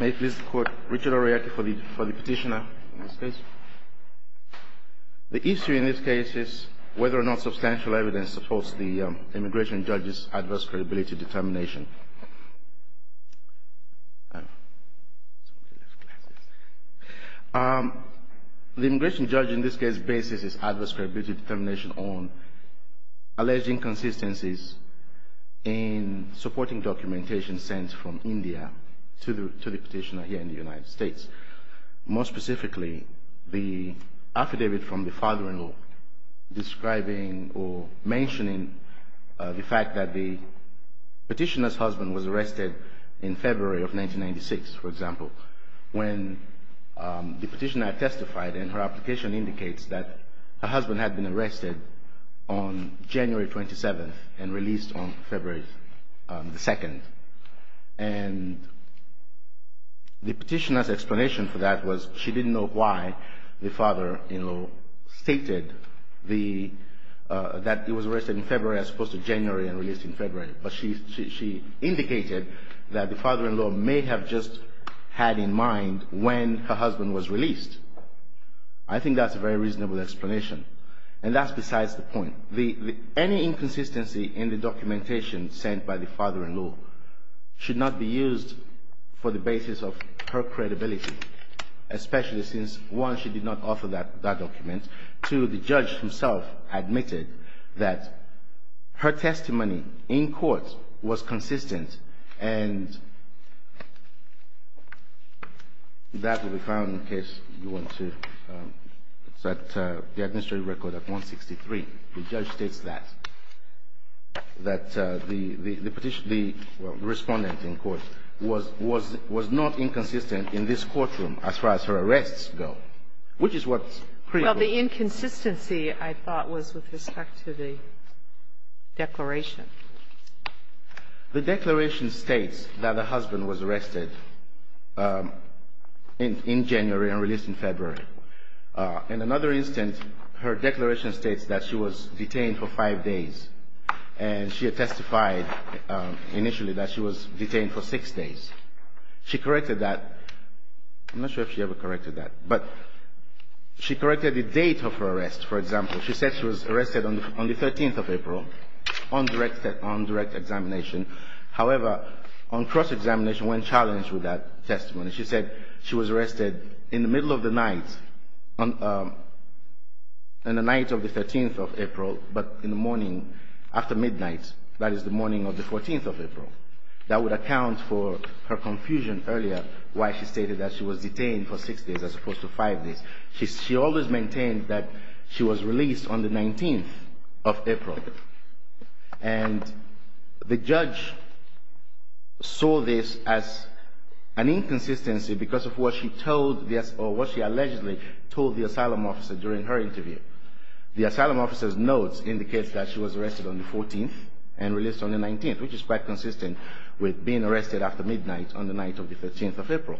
May I please quote Richard O'Reilly for the petitioner in this case? The issue in this case is whether or not substantial evidence supports the immigration judge's adverse credibility determination. The immigration judge in this case bases his adverse credibility determination on alleged inconsistencies in supporting documentation sent from India to the petitioner here in the United States. In this case, more specifically, the affidavit from the father-in-law describing or mentioning the fact that the petitioner's husband was arrested in February of 1996, for example, when the petitioner testified and her application indicates that her husband had been arrested on January 27th and released on February 2nd. And the petitioner's explanation for that was she didn't know why the father-in-law stated that he was arrested in February as opposed to January and released in February. But she indicated that the father-in-law may have just had in mind when her husband was released. I think that's a very reasonable explanation. And that's besides the point. Any inconsistency in the documentation sent by the father-in-law should not be used for the basis of her credibility, especially since, one, she did not offer that document. Two, the judge himself admitted that her testimony in court was consistent. And that will be found in case you want to look at the administrative record at 163. The judge states that, that the petitioner, the respondent in court, was not inconsistent in this courtroom as far as her arrests go, which is what's critical. Well, the inconsistency, I thought, was with respect to the declaration. The declaration states that the husband was arrested in January and released in February. In another instance, her declaration states that she was detained for five days. And she testified initially that she was detained for six days. She corrected that. I'm not sure if she ever corrected that. She said she was arrested on the 13th of April on direct examination. However, on cross-examination, when challenged with that testimony, she said she was arrested in the middle of the night, on the night of the 13th of April, but in the morning after midnight, that is the morning of the 14th of April. That would account for her confusion earlier why she stated that she was detained for six days as opposed to five days. She always maintained that she was released on the 19th of April. And the judge saw this as an inconsistency because of what she told the or what she allegedly told the asylum officer during her interview. The asylum officer's notes indicates that she was arrested on the 14th and released on the 19th, which is quite consistent with being arrested after midnight on the night of the 13th of April.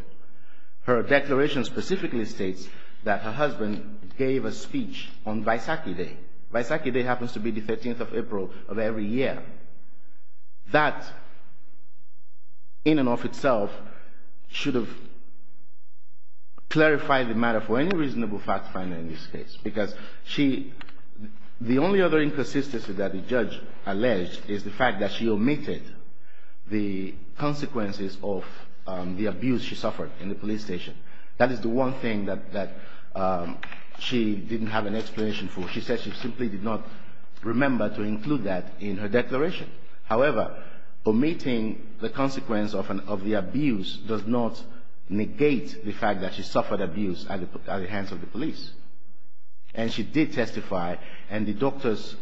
Her declaration specifically states that her husband gave a speech on Vaisakhi Day. Vaisakhi Day happens to be the 13th of April of every year. That, in and of itself, should have clarified the matter for any reasonable fact finder in this case, because the only other inconsistency that the judge alleged is the fact that she omitted the consequences of the abuse she suffered in the police station. That is the one thing that she didn't have an explanation for. She said she simply did not remember to include that in her declaration. However, omitting the consequence of the abuse does not negate the fact that she suffered abuse at the hands of the police. And she did testify, and the doctor's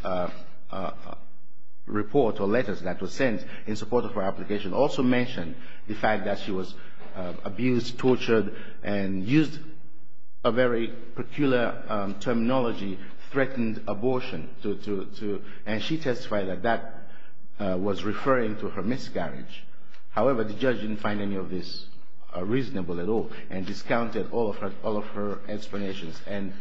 report or letters that were sent in support of her application also mentioned the fact that she was abused, tortured, and used a very peculiar terminology, threatened abortion. And she testified that that was referring to her miscarriage. However, the judge didn't find any of this reasonable at all and discounted all of her explanations. And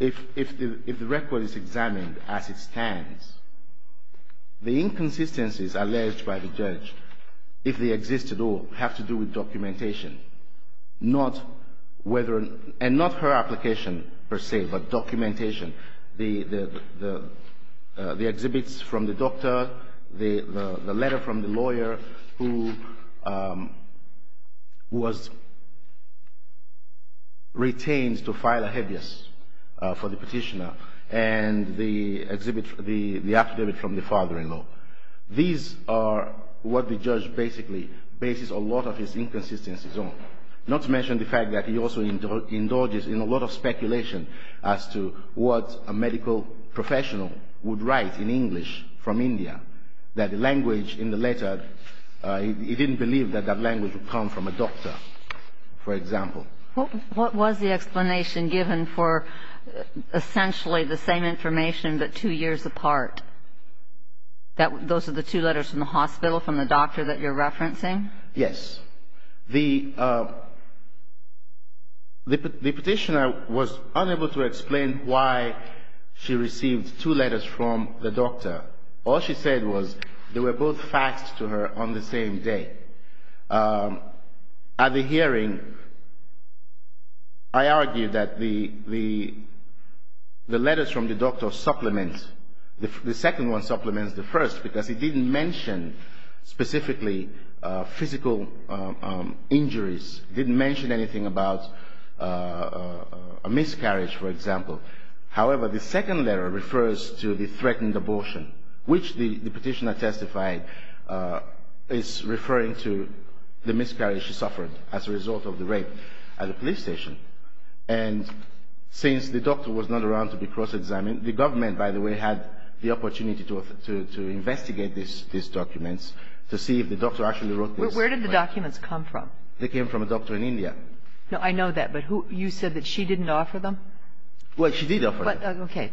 if the record is examined as it stands, the inconsistencies alleged by the judge, if they exist at all, have to do with documentation, and not her application per se, but documentation. The exhibits from the doctor, the letter from the lawyer who was retained to file a habeas for the petitioner, and the affidavit from the father-in-law. These are what the judge basically bases a lot of his inconsistencies on, not to mention the fact that he also indulges in a lot of speculation as to what a medical professional would write in English from India, that the language in the letter, he didn't believe that that language would come from a doctor, for example. What was the explanation given for essentially the same information but two years apart? Those are the two letters from the hospital, from the doctor that you're referencing? Yes. The petitioner was unable to explain why she received two letters from the doctor. All she said was they were both facts to her on the same day. At the hearing, I argue that the letters from the doctor supplement, the second one supplements the first, because it didn't mention specifically physical injuries. It didn't mention anything about a miscarriage, for example. However, the second letter refers to the threatened abortion, which the petitioner testified is referring to the miscarriage she suffered as a result of the rape at the police station. And since the doctor was not around to be cross-examined, the government, by the way, had the opportunity to investigate these documents to see if the doctor actually wrote this. Where did the documents come from? They came from a doctor in India. No, I know that. But you said that she didn't offer them? Well, she did offer them. Okay.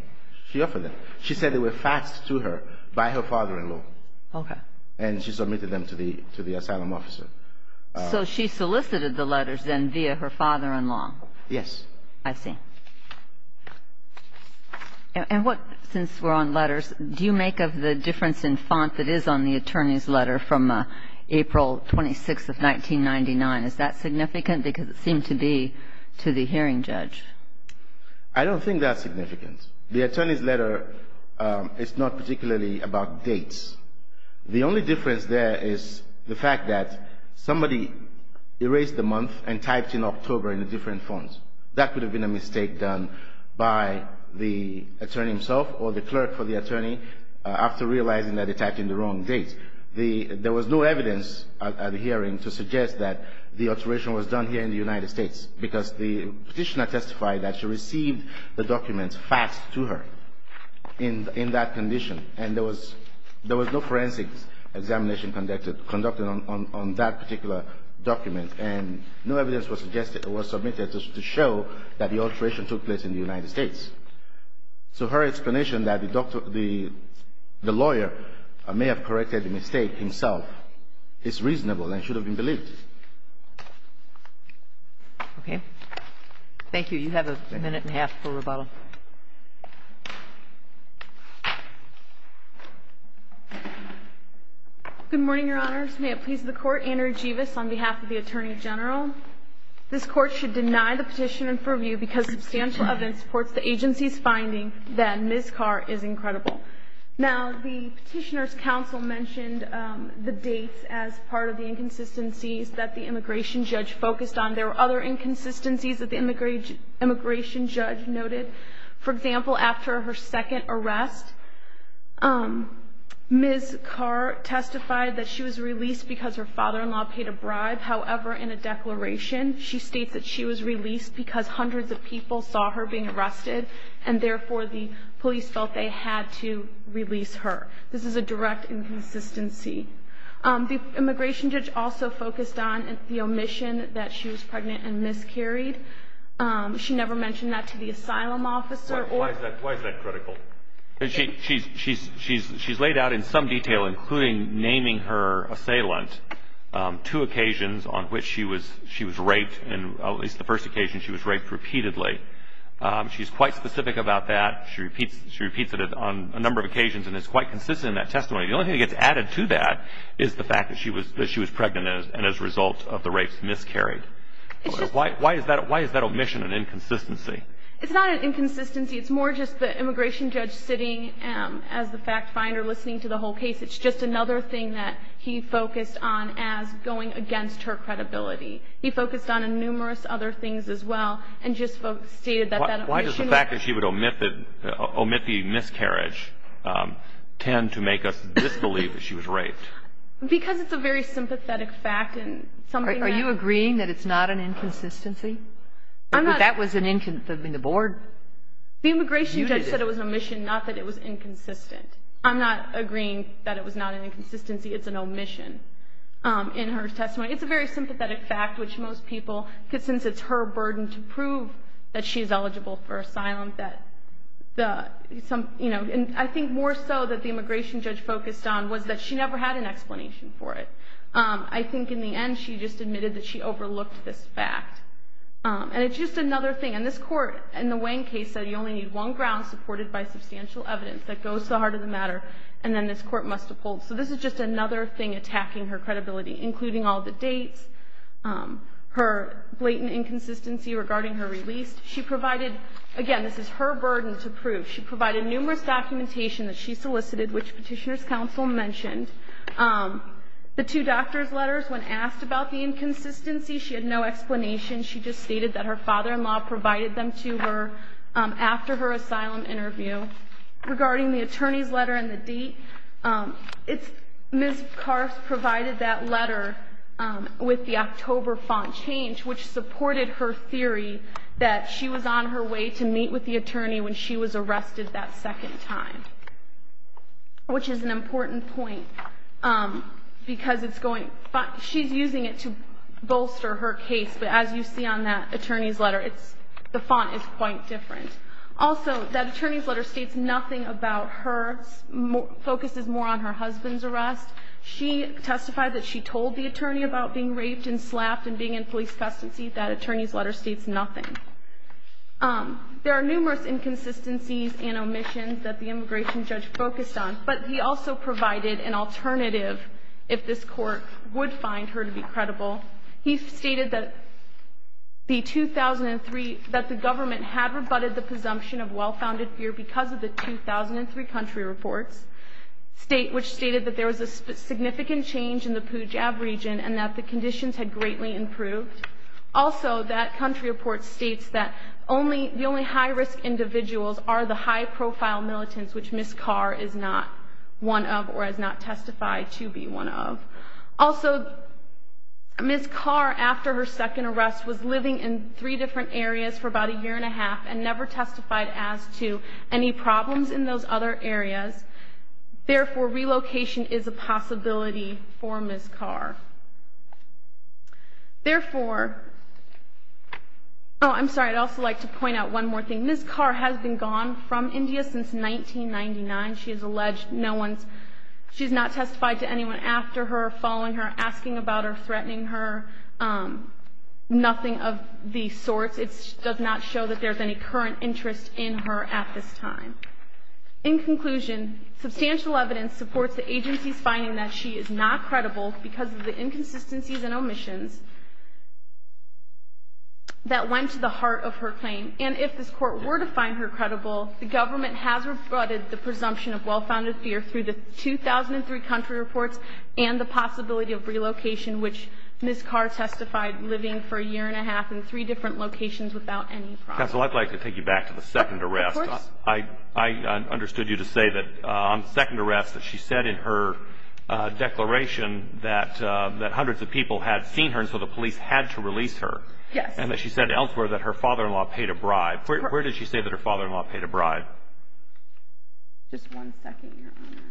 She offered them. She said they were facts to her by her father-in-law. Okay. And she submitted them to the asylum officer. So she solicited the letters then via her father-in-law? Yes. I see. And what, since we're on letters, do you make of the difference in font that is on the attorney's letter from April 26th of 1999? Is that significant? Because it seemed to be to the hearing judge. I don't think that's significant. The attorney's letter is not particularly about dates. The only difference there is the fact that somebody erased the month and typed in October in a different font. That could have been a mistake done by the attorney himself or the clerk for the attorney after realizing that they typed in the wrong date. There was no evidence at the hearing to suggest that the alteration was done here in the United States, because the Petitioner testified that she received the documents faxed to her in that condition, and there was no forensics examination conducted on that particular document. And no evidence was submitted to show that the alteration took place in the United States. So her explanation that the lawyer may have corrected the mistake himself is reasonable and should have been believed. Okay. Thank you. You have a minute and a half for rebuttal. Good morning, Your Honors. May it please the Court, Andrew Jevis on behalf of the Attorney General. This Court should deny the petition in purview because substantial evidence supports the agency's finding that Ms. Carr is incredible. Now, the Petitioner's counsel mentioned the dates as part of the inconsistencies that the immigration judge focused on. There were other inconsistencies that the immigration judge noted. For example, after her second arrest, Ms. Carr testified that she was released because her father-in-law paid a bribe. However, in a declaration, she states that she was released because hundreds of people saw her being arrested, and therefore the police felt they had to release her. This is a direct inconsistency. The immigration judge also focused on the omission that she was pregnant and miscarried. She never mentioned that to the asylum officer. Why is that critical? She's laid out in some detail, including naming her assailant, two occasions on which she was raped, and at least the first occasion she was raped repeatedly. She's quite specific about that. She repeats it on a number of occasions and is quite consistent in that testimony. The only thing that gets added to that is the fact that she was pregnant and as a result of the rapes miscarried. Why is that omission an inconsistency? It's not an inconsistency. It's more just the immigration judge sitting as the fact finder listening to the whole case. It's just another thing that he focused on as going against her credibility. He focused on numerous other things as well and just stated that that omission was... Why does the fact that she would omit the miscarriage tend to make us disbelieve that she was raped? Because it's a very sympathetic fact and something that... Are you agreeing that it's not an inconsistency? I'm not... But that was an inconsistency. The board... The immigration judge said it was an omission, not that it was inconsistent. I'm not agreeing that it was not an inconsistency. It's an omission in her testimony. It's a very sympathetic fact, which most people, since it's her burden to prove that she's eligible for asylum, that the... I think more so that the immigration judge focused on was that she never had an explanation for it. I think in the end she just admitted that she overlooked this fact. And it's just another thing. And this Court, in the Wayne case, said you only need one ground supported by substantial evidence that goes to the heart of the matter. And then this Court must uphold. So this is just another thing attacking her credibility, including all the dates, her blatant inconsistency regarding her release. She provided... Again, this is her burden to prove. She provided numerous documentation that she solicited, which Petitioner's Counsel mentioned. The two doctor's letters, when asked about the inconsistency, she had no explanation. She just stated that her father-in-law provided them to her after her asylum interview. Regarding the attorney's letter and the date, Ms. Carff provided that letter with the October font change, which supported her theory that she was on her way to meet with the attorney when she was arrested that second time, which is an important point because it's going... She's using it to bolster her case. But as you see on that attorney's letter, the font is quite different. Also, that attorney's letter states nothing about her, focuses more on her husband's arrest. She testified that she told the attorney about being raped and slapped and being in police custody. That attorney's letter states nothing. There are numerous inconsistencies and omissions that the immigration judge focused on, but he also provided an alternative if this Court would find her to be credible. He stated that the 2003... that the government had rebutted the presumption of well-founded fear because of the 2003 country reports, which stated that there was a significant change in the Pujab region and that the conditions had greatly improved. Also, that country report states that the only high-risk individuals are the high-profile militants, which Ms. Carr is not one of or has not testified to be one of. Also, Ms. Carr, after her second arrest, was living in three different areas for about a year and a half and never testified as to any problems in those other areas. Therefore, relocation is a possibility for Ms. Carr. Therefore... oh, I'm sorry, I'd also like to point out one more thing. Ms. Carr has been gone from India since 1999. She has alleged no one's... she's not testified to anyone after her, following her, asking about her, threatening her, nothing of these sorts. It does not show that there's any current interest in her at this time. In conclusion, substantial evidence supports the agency's finding that she is not credible because of the inconsistencies and omissions that went to the heart of her claim. And if this Court were to find her credible, the government has rebutted the presumption of well-founded fear through the 2003 country reports and the possibility of relocation, which Ms. Carr testified living for a year and a half in three different locations without any problems. Counsel, I'd like to take you back to the second arrest. Of course. I understood you to say that on second arrest that she said in her declaration that hundreds of people had seen her and so the police had to release her. Yes. And that she said elsewhere that her father-in-law paid a bribe. Where did she say that her father-in-law paid a bribe? Just one second, Your Honor.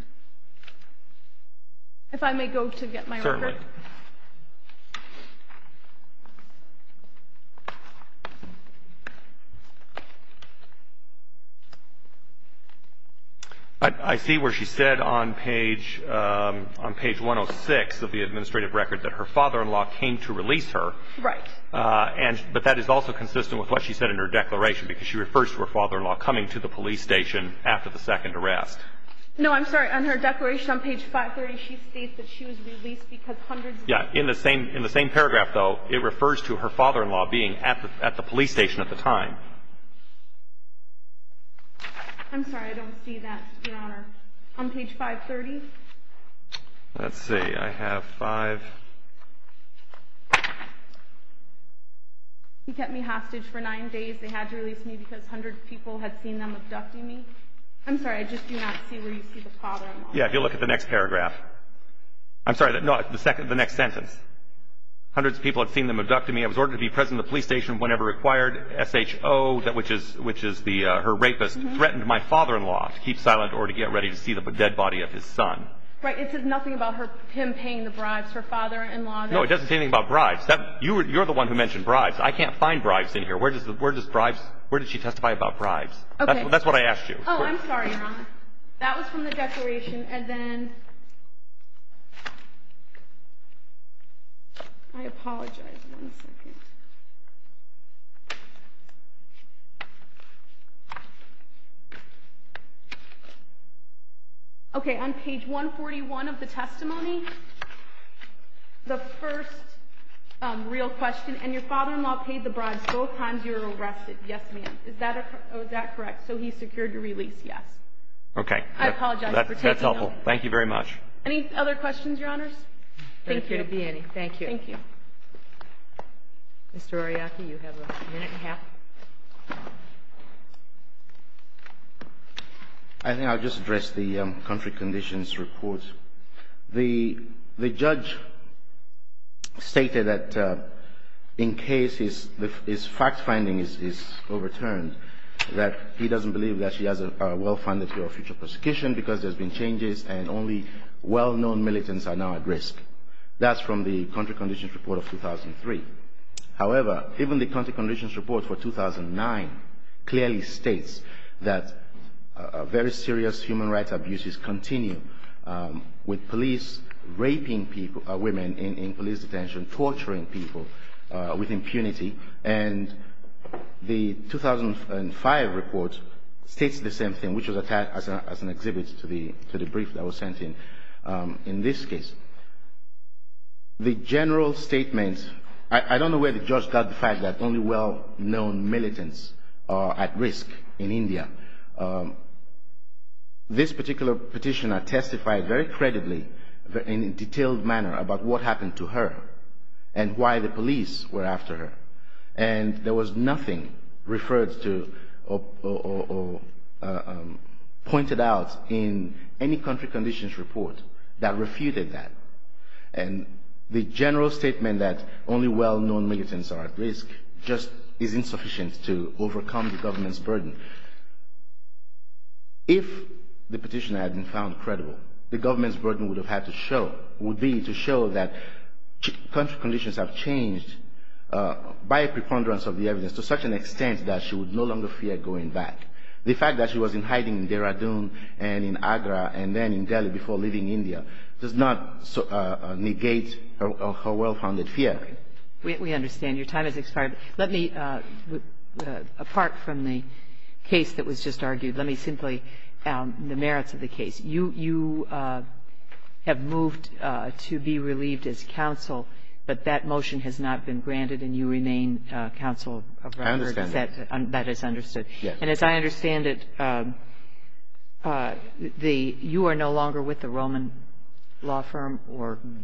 If I may go to get my record? Certainly. I see where she said on page 106 of the administrative record that her father-in-law came to release her. Right. But that is also consistent with what she said in her declaration because she refers to her father-in-law coming to the police station after the second arrest. No, I'm sorry. On her declaration on page 530, she states that she was released because hundreds of people In the same paragraph, though, it refers to her father-in-law being at the police station at the time. I'm sorry. I don't see that, Your Honor. On page 530? Let's see. I have five. He kept me hostage for nine days. They had to release me because hundreds of people had seen them abducting me. I'm sorry. I just do not see where you see the father-in-law. Yeah. If you look at the next paragraph. I'm sorry. No, the next sentence. Hundreds of people had seen them abducting me. I was ordered to be present at the police station whenever required. SHO, which is her rapist, threatened my father-in-law to keep silent or to get ready to see the dead body of his son. Right. It says nothing about him paying the bribes, her father-in-law. No, it doesn't say anything about bribes. You're the one who mentioned bribes. I can't find bribes in here. Where does she testify about bribes? Okay. That's what I asked you. Oh, I'm sorry, Your Honor. That was from the declaration. And then... I apologize. One second. Okay. On page 141 of the testimony, the first real question. And your father-in-law paid the bribes both times you were arrested. Yes, ma'am. Is that correct? So he secured your release. Yes. Okay. I apologize for taking over. That's helpful. Thank you very much. Any other questions, Your Honors? Thank you. Thank you. Thank you. Mr. Oriaki, you have a minute and a half. I think I'll just address the country conditions report. The judge stated that in case his fact-finding is overturned, that he doesn't believe that she has a well-funded future prosecution because there's been changes and only well-known militants are now at risk. That's from the country conditions report of 2003. However, even the country conditions report for 2009 clearly states that very serious human rights abuses continue. With police raping women in police detention, torturing people with impunity. And the 2005 report states the same thing, which was attached as an exhibit to the brief that was sent in in this case. The general statement, I don't know where the judge got the fact that only well-known militants are at risk in India. This particular petitioner testified very credibly in a detailed manner about what happened to her and why the police were after her. And there was nothing referred to or pointed out in any country conditions report that refuted that. And the general statement that only well-known militants are at risk just is insufficient to overcome the government's burden. If the petitioner had been found credible, the government's burden would have had to show, would be to show that country conditions have changed by a preponderance of the evidence to such an extent that she would no longer fear going back. The fact that she was in hiding in Dehradun and in Agra and then in Delhi before leaving India does not negate her well-founded fear. We understand. Your time has expired. Let me, apart from the case that was just argued, let me simply, the merits of the case. You have moved to be relieved as counsel, but that motion has not been granted and you remain counsel of record. I understand that. That is understood. And as I understand it, you are no longer with the Roman law firm?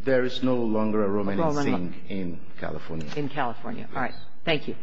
There is no longer a Roman law firm in California. In California. All right. Thank you.